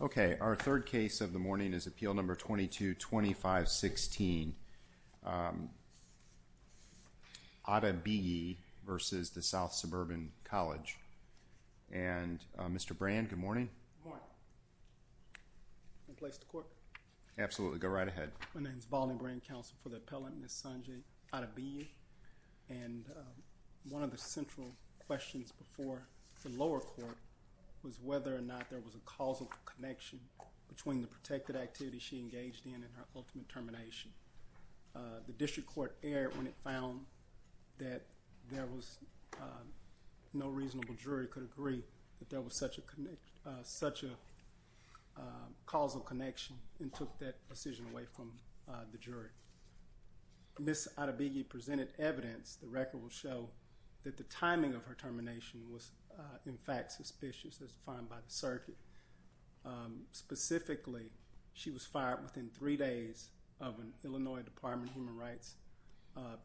Okay, our third case of the morning is Appeal Number 22-2516, Adebiyi v. South Suburban College. And, Mr. Brand, good morning. Good morning. Can I place the court? Absolutely. Go right ahead. My name is Volney Brand, counsel for the appellant, Ms. Sanjay Adebiyi, and one of the central questions before the lower court was whether or not there was a causal connection between the protected activity she engaged in and her ultimate termination. The district court erred when it found that there was no reasonable jury could agree that there was such a causal connection and took that decision away from the jury. Ms. Adebiyi presented evidence, the record will show, that the timing of her termination was in fact suspicious as defined by the circuit. Specifically, she was fired within three days of an Illinois Department of Human Rights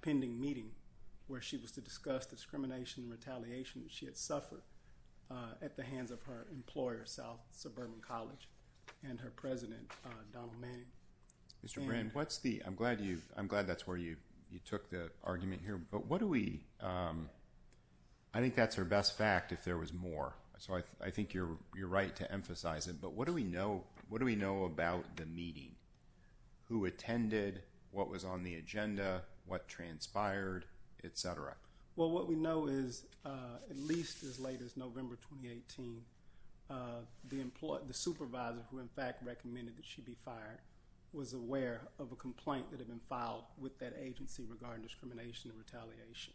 pending meeting where she was to discuss discrimination and retaliation that she had suffered at the hands of her employer, South Suburban College, and her president, Donald Manning. Mr. Brand, I'm glad that's where you took the argument here, but I think that's her best fact if there was more, so I think you're right to emphasize it, but what do we know about the meeting, who attended, what was on the agenda, what transpired, et cetera? Well, what we know is at least as late as November 2018, the supervisor who in fact recommended that she be fired was aware of a complaint that had been filed with that agency regarding discrimination and retaliation.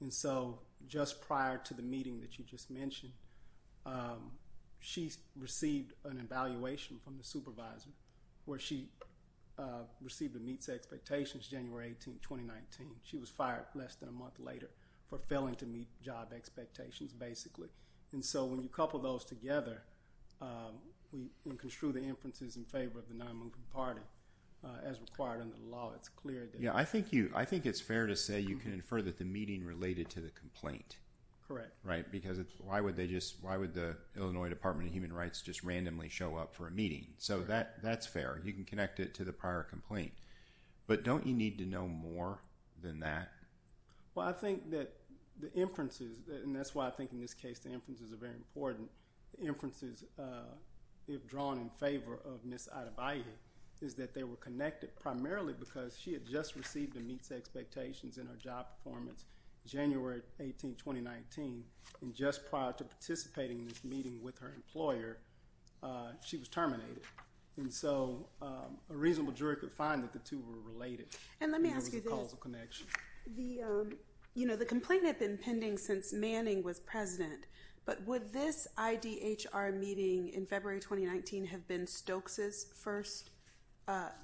And so just prior to the meeting that you just mentioned, she received an evaluation from the supervisor where she received a meets expectations January 18, 2019. She was fired less than a month later for failing to meet job expectations, basically. And so when you couple those together, we can construe the inferences in favor of the non-moving party as required under the law. It's clear that- Yeah. I think it's fair to say you can infer that the meeting related to the complaint. Correct. Right? Because why would the Illinois Department of Human Rights just randomly show up for a meeting? So that's fair. You can connect it to the prior complaint, but don't you need to know more than that? Well, I think that the inferences, and that's why I think in this case the inferences are very important, the inferences, if drawn in favor of Ms. Adebaye, is that they were connected primarily because she had just received a meets expectations in her job performance January 18, 2019, and just prior to participating in this meeting with her employer, she was terminated. And so a reasonable jury could find that the two were related. And let me ask you this. What was the causal connection? You know, the complaint had been pending since Manning was president. But would this IDHR meeting in February 2019 have been Stokes' first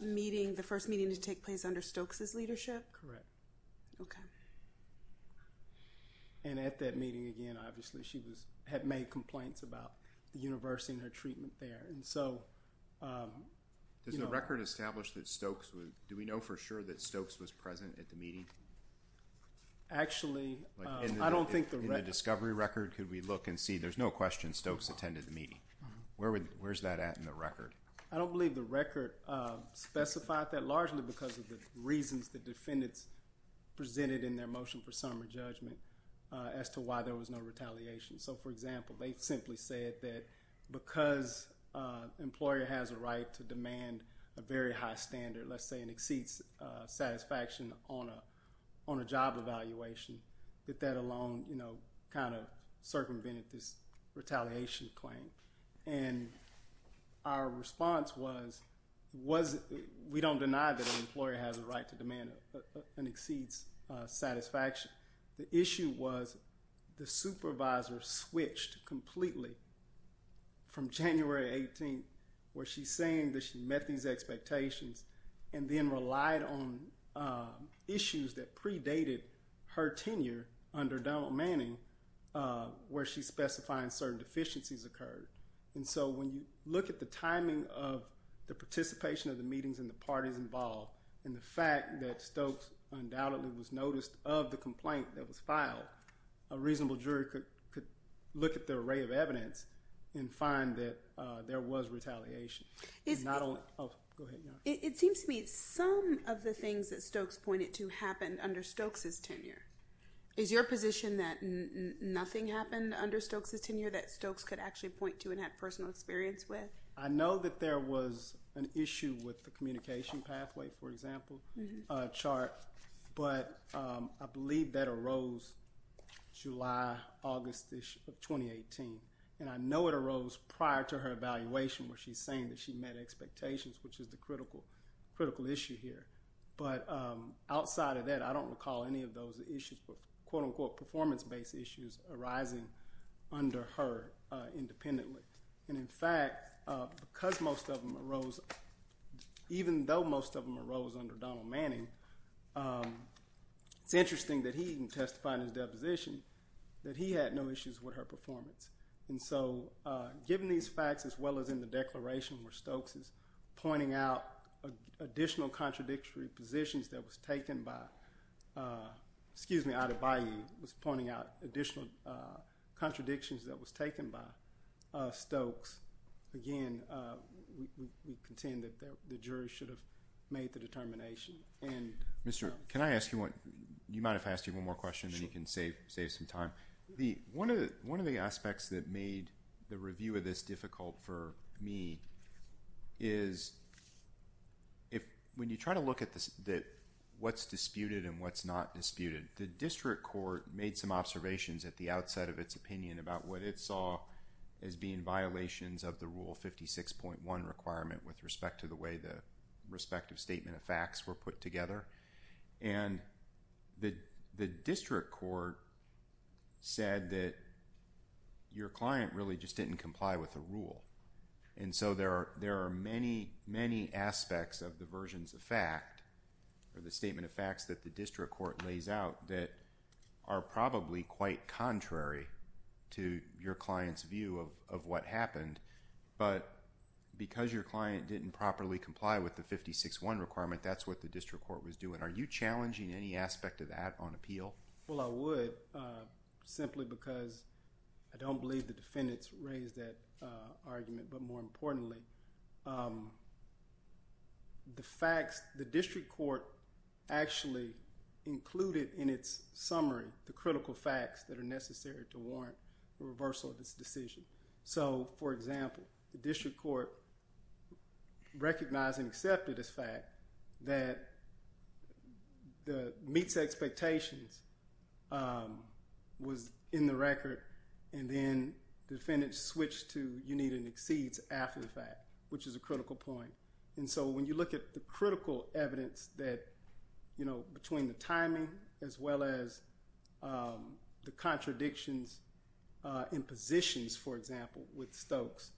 meeting, the first meeting to take place under Stokes' leadership? Correct. Okay. And at that meeting, again, obviously she had made complaints about the university and her treatment there. And so- Does the record establish that Stokes, do we know for sure that Stokes was present at the meeting? Actually, I don't think the record- In the discovery record, could we look and see? There's no question Stokes attended the meeting. Where's that at in the record? I don't believe the record specified that, largely because of the reasons the defendants presented in their motion for summary judgment as to why there was no retaliation. So, for example, they simply said that because an employer has a right to demand a very high standard, let's say an exceeds satisfaction on a job evaluation, that that alone kind of circumvented this retaliation claim. And our response was, we don't deny that an employer has a right to demand an exceeds satisfaction. The issue was the supervisor switched completely from January 18th, where she's saying that she met these expectations, and then relied on issues that predated her tenure under Donald Manning, where she's specifying certain deficiencies occurred. And so when you look at the timing of the participation of the meetings and the parties involved, and the fact that Stokes undoubtedly was noticed of the complaint that was filed, a reasonable jury could look at the array of evidence and find that there was retaliation. It seems to me some of the things that Stokes pointed to happened under Stokes' tenure. Is your position that nothing happened under Stokes' tenure that Stokes could actually point to and have personal experience with? I know that there was an issue with the communication pathway, for example, chart, but I believe that arose July, August of 2018. And I know it arose prior to her evaluation, where she's saying that she met expectations, which is the critical issue here. But outside of that, I don't recall any of those issues, quote unquote, performance-based issues arising under her independently. And in fact, because most of them arose, even though most of them arose under Donald Manning, it's interesting that he even testified in his deposition that he had no issues with her performance. And so given these facts, as well as in the declaration where Stokes is pointing out additional contradictory positions that was taken by, excuse me, Adebaye was pointing out additional contradictions that was taken by Stokes, again, we contend that the jury should have made the determination. And- Mr., can I ask you one? You might have asked you one more question, and you can save some time. One of the aspects that made the review of this difficult for me is when you try to look at what's disputed and what's not disputed, the district court made some observations at the outset of its opinion about what it saw as being violations of the Rule 56.1 requirement with respect to the way the respective statement of facts were put together. And the district court said that your client really just didn't comply with the rule. And so there are many, many aspects of the versions of fact, or the statement of facts that the district court lays out that are probably quite contrary to your client's view of what happened. But because your client didn't properly comply with the 56.1 requirement, that's what the district court was doing. Are you challenging any aspect of that on appeal? Well, I would, simply because I don't believe the defendants raised that argument. But more importantly, the facts, the district court actually included in its summary the critical facts that are necessary to warrant the reversal of this decision. So for example, the district court recognized and accepted this fact that the meets expectations was in the record, and then defendants switched to you need an exceeds after the fact, which is a critical point. And so when you look at the critical evidence that, you know, between the timing as well as the contradictions in positions, for example, with Stokes,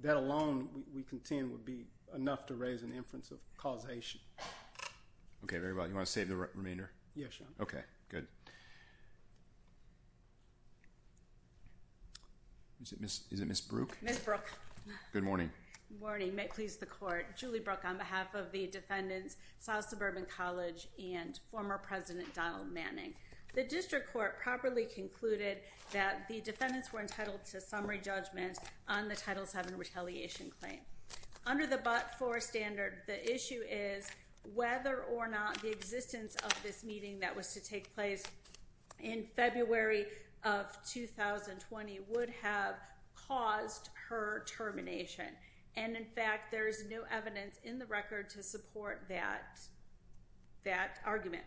that alone we contend would be enough to raise an inference of causation. Okay, very well. You want to save the remainder? Yes, Your Honor. Okay, good. Is it Ms. Brooke? Ms. Brooke. Good morning. Good morning. May it please the court. Julie Brooke on behalf of the defendants, South Suburban College, and former President Donald Manning. The district court properly concluded that the defendants were entitled to summary judgment on the Title VII retaliation claim. Under the but-for standard, the issue is whether or not the existence of this meeting that was to take place in February of 2020 would have caused her termination. And in fact, there is no evidence in the record to support that argument.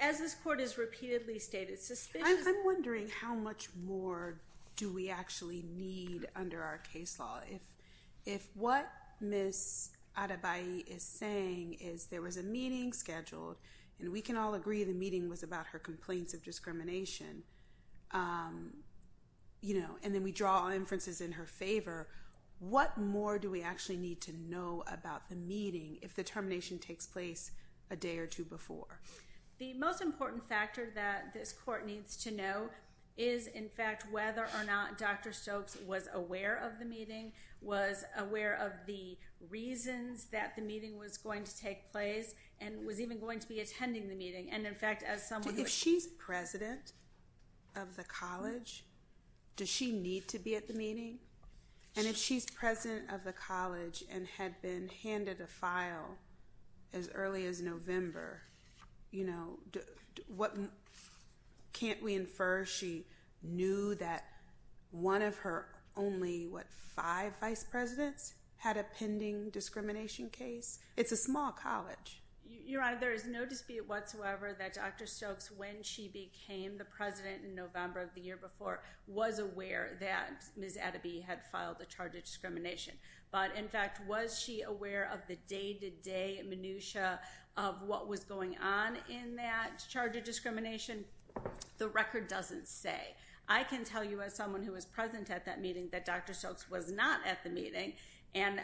As this court has repeatedly stated, suspicions- I'm wondering how much more do we actually need under our case law. If what Ms. Adebaye is saying is there was a meeting scheduled, and we can all agree the meeting was about her complaints of discrimination, and then we draw inferences in her favor, what more do we actually need to know about the meeting if the termination takes place a day or two before? The most important factor that this court needs to know is, in fact, whether or not Dr. Stokes was aware of the meeting, was aware of the reasons that the meeting was going to take place, and was even going to be attending the meeting. And in fact, as someone- If she's president of the college, does she need to be at the meeting? And if she's president of the college and had been handed a file as early as November, you know, can't we infer she knew that one of her only, what, five vice presidents had a pending discrimination case? It's a small college. Your Honor, there is no dispute whatsoever that Dr. Stokes, when she became the president in November of the year before, was aware that Ms. Adebaye had filed a charge of discrimination. But in fact, was she aware of the day-to-day minutiae of what was going on in that charge of discrimination? The record doesn't say. I can tell you, as someone who was present at that meeting, that Dr. Stokes was not at the meeting, and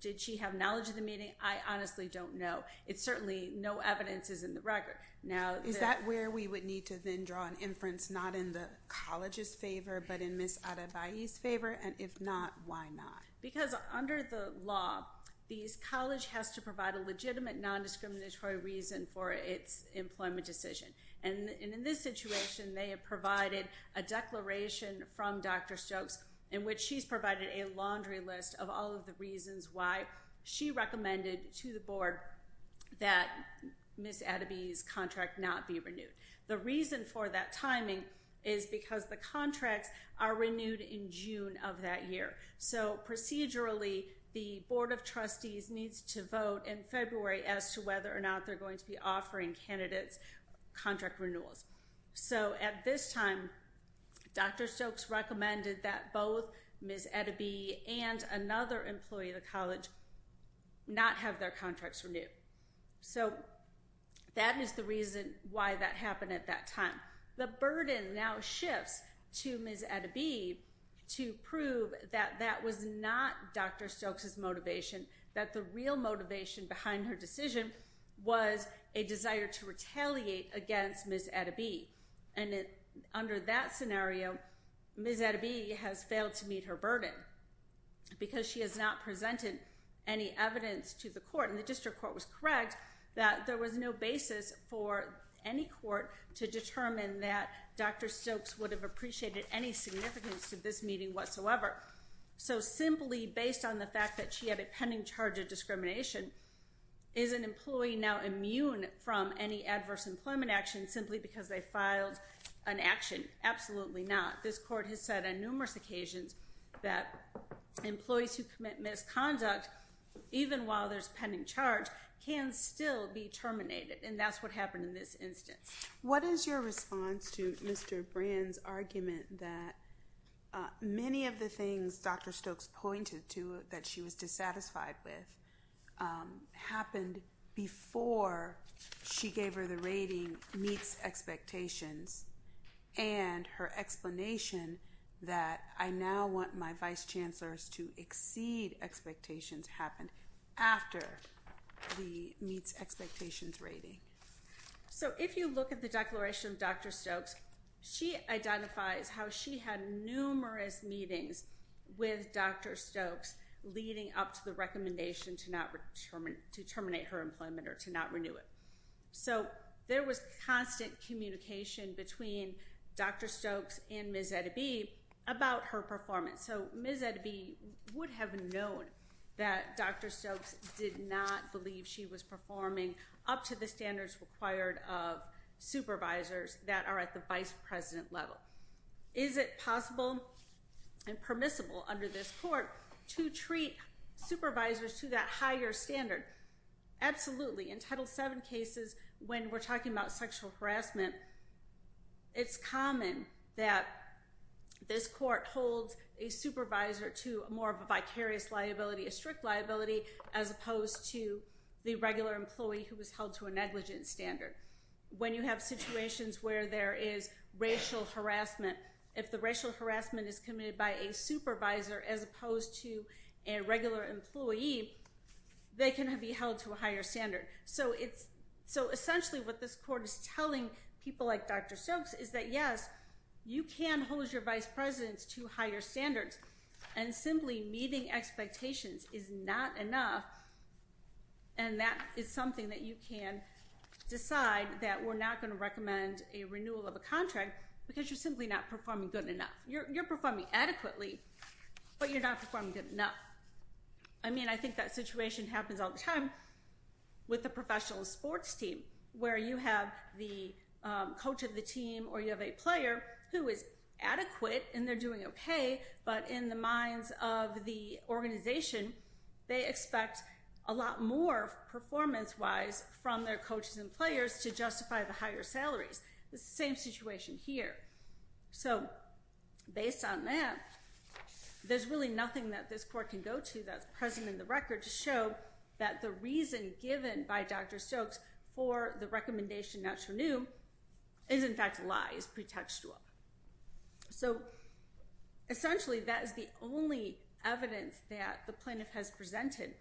did she have knowledge of the meeting? I honestly don't know. It's certainly, no evidence is in the record. Now- Is that where we would need to then draw an inference, not in the college's favor, but in Ms. Adebaye's favor, and if not, why not? Because under the law, the college has to provide a legitimate non-discriminatory reason for its employment decision. And in this situation, they have provided a declaration from Dr. Stokes in which she's provided a laundry list of all of the reasons why she recommended to the board that Ms. Adebaye's contract not be renewed. The reason for that timing is because the contracts are renewed in June of that year. So procedurally, the board of trustees needs to vote in February as to whether or not they're going to be offering candidates contract renewals. So at this time, Dr. Stokes recommended that both Ms. Adebaye and another employee of the college not have their contracts renewed. So that is the reason why that happened at that time. Now, the burden now shifts to Ms. Adebaye to prove that that was not Dr. Stokes' motivation, that the real motivation behind her decision was a desire to retaliate against Ms. Adebaye. And under that scenario, Ms. Adebaye has failed to meet her burden because she has not presented any evidence to the court, and the district court was correct that there was no basis for any court to determine that Dr. Stokes would have appreciated any significance to this meeting whatsoever. So simply based on the fact that she had a pending charge of discrimination, is an employee now immune from any adverse employment action simply because they filed an action? Absolutely not. This court has said on numerous occasions that employees who commit misconduct, even while there's pending charge, can still be terminated. And that's what happened in this instance. What is your response to Mr. Brand's argument that many of the things Dr. Stokes pointed to that she was dissatisfied with happened before she gave her the rating meets expectations and her explanation that I now want my vice chancellors to exceed expectations happened after the meets expectations rating? So if you look at the declaration of Dr. Stokes, she identifies how she had numerous meetings with Dr. Stokes leading up to the recommendation to terminate her employment or to not renew it. So there was constant communication between Dr. Stokes and Ms. Adebaye about her performance. So Ms. Adebaye would have known that Dr. Stokes did not believe she was performing up to the standards required of supervisors that are at the vice president level. Is it possible and permissible under this court to treat supervisors to that higher standard? Absolutely. In Title VII cases, when we're talking about sexual harassment, it's common that this court holds a supervisor to more of a vicarious liability, a strict liability, as opposed to the regular employee who was held to a negligent standard. When you have situations where there is racial harassment, if the racial harassment is committed by a supervisor as opposed to a regular employee, they can be held to a higher standard. So essentially what this court is telling people like Dr. Stokes is that yes, you can hold your vice presidents to higher standards, and simply meeting expectations is not enough, and that is something that you can decide that we're not going to recommend a renewal of a contract because you're simply not performing good enough. You're performing adequately, but you're not performing good enough. I mean, I think that situation happens all the time with the professional sports team where you have the coach of the team or you have a player who is adequate and they're doing okay, but in the minds of the organization, they expect a lot more performance-wise from their coaches and players to justify the higher salaries. It's the same situation here. So based on that, there's really nothing that this court can go to that's present in the court. The recommendation not to renew is in fact a lie, is pretextual. So essentially that is the only evidence that the plaintiff has presented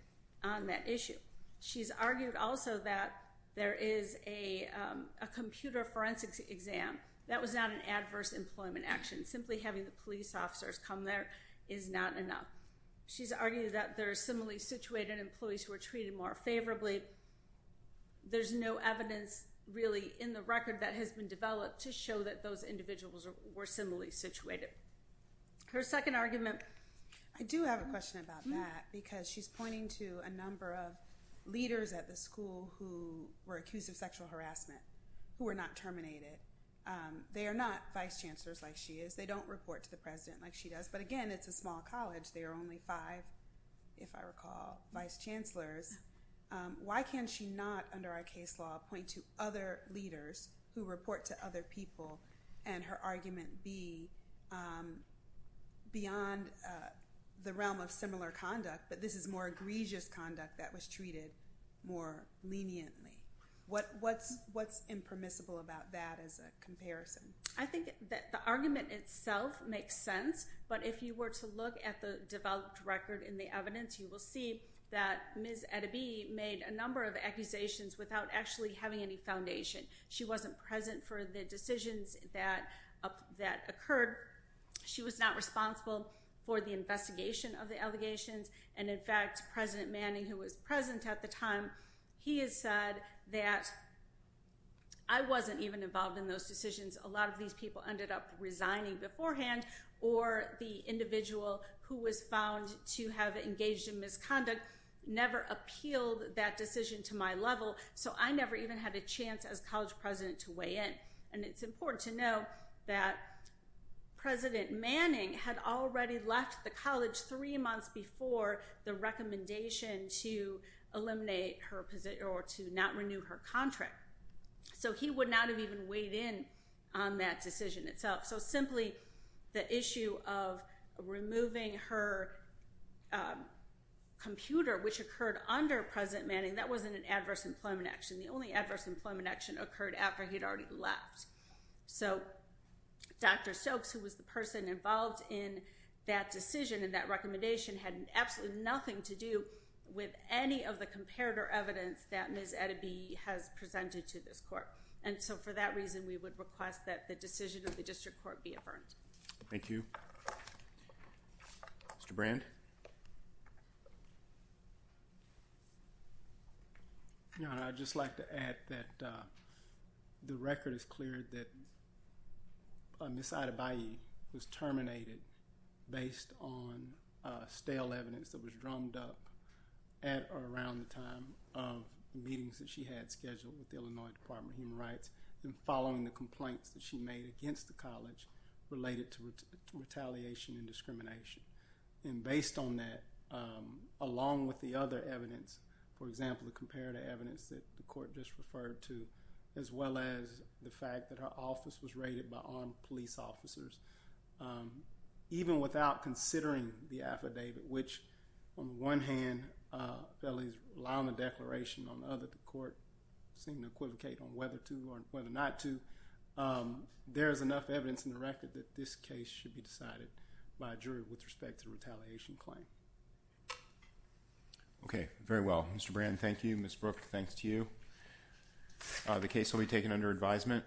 on that issue. She's argued also that there is a computer forensics exam. That was not an adverse employment action. Simply having the police officers come there is not enough. She's argued that there are similarly situated employees who are treated more favorably. There's no evidence really in the record that has been developed to show that those individuals were similarly situated. Her second argument. I do have a question about that because she's pointing to a number of leaders at the school who were accused of sexual harassment who were not terminated. They are not vice chancellors like she is. They don't report to the president like she does, but again, it's a small college. They are only five, if I recall, vice chancellors. Why can she not, under our case law, point to other leaders who report to other people and her argument be beyond the realm of similar conduct, but this is more egregious conduct that was treated more leniently? What's impermissible about that as a comparison? I think that the argument itself makes sense, but if you were to look at the developed record in the evidence, you will see that Ms. Edeby made a number of accusations without actually having any foundation. She wasn't present for the decisions that occurred. She was not responsible for the investigation of the allegations, and in fact, President Manning, who was present at the time, he has said that I wasn't even involved in those decisions. A lot of these people ended up resigning beforehand, or the individual who was found to have engaged in misconduct never appealed that decision to my level, so I never even had a chance as college president to weigh in, and it's important to know that President Manning had already left the college three months before the recommendation to eliminate her position or to not renew her contract. So he would not have even weighed in on that decision itself, so simply the issue of removing her computer, which occurred under President Manning, that wasn't an adverse employment action. The only adverse employment action occurred after he'd already left. So Dr. Stokes, who was the person involved in that decision and that recommendation had absolutely nothing to do with any of the comparator evidence that Ms. Edeby has presented to this court, and so for that reason, we would request that the decision of the district court be affirmed. Thank you. Mr. Brand? Your Honor, I'd just like to add that the record is clear that Ms. Edeby was terminated based on stale evidence that was drummed up at or around the time of meetings that she had scheduled with the Illinois Department of Human Rights and following the complaints that she made against the college related to retaliation and discrimination, and based on that, along with the other evidence, for example, the comparator evidence that the Even without considering the affidavit, which on the one hand, felonies rely on the declaration, on the other, the court seemed to equivocate on whether to or whether not to, there is enough evidence in the record that this case should be decided by a jury with respect to the retaliation claim. Okay, very well. Mr. Brand, thank you. Ms. Brooke, thanks to you. The case will be taken under advisement.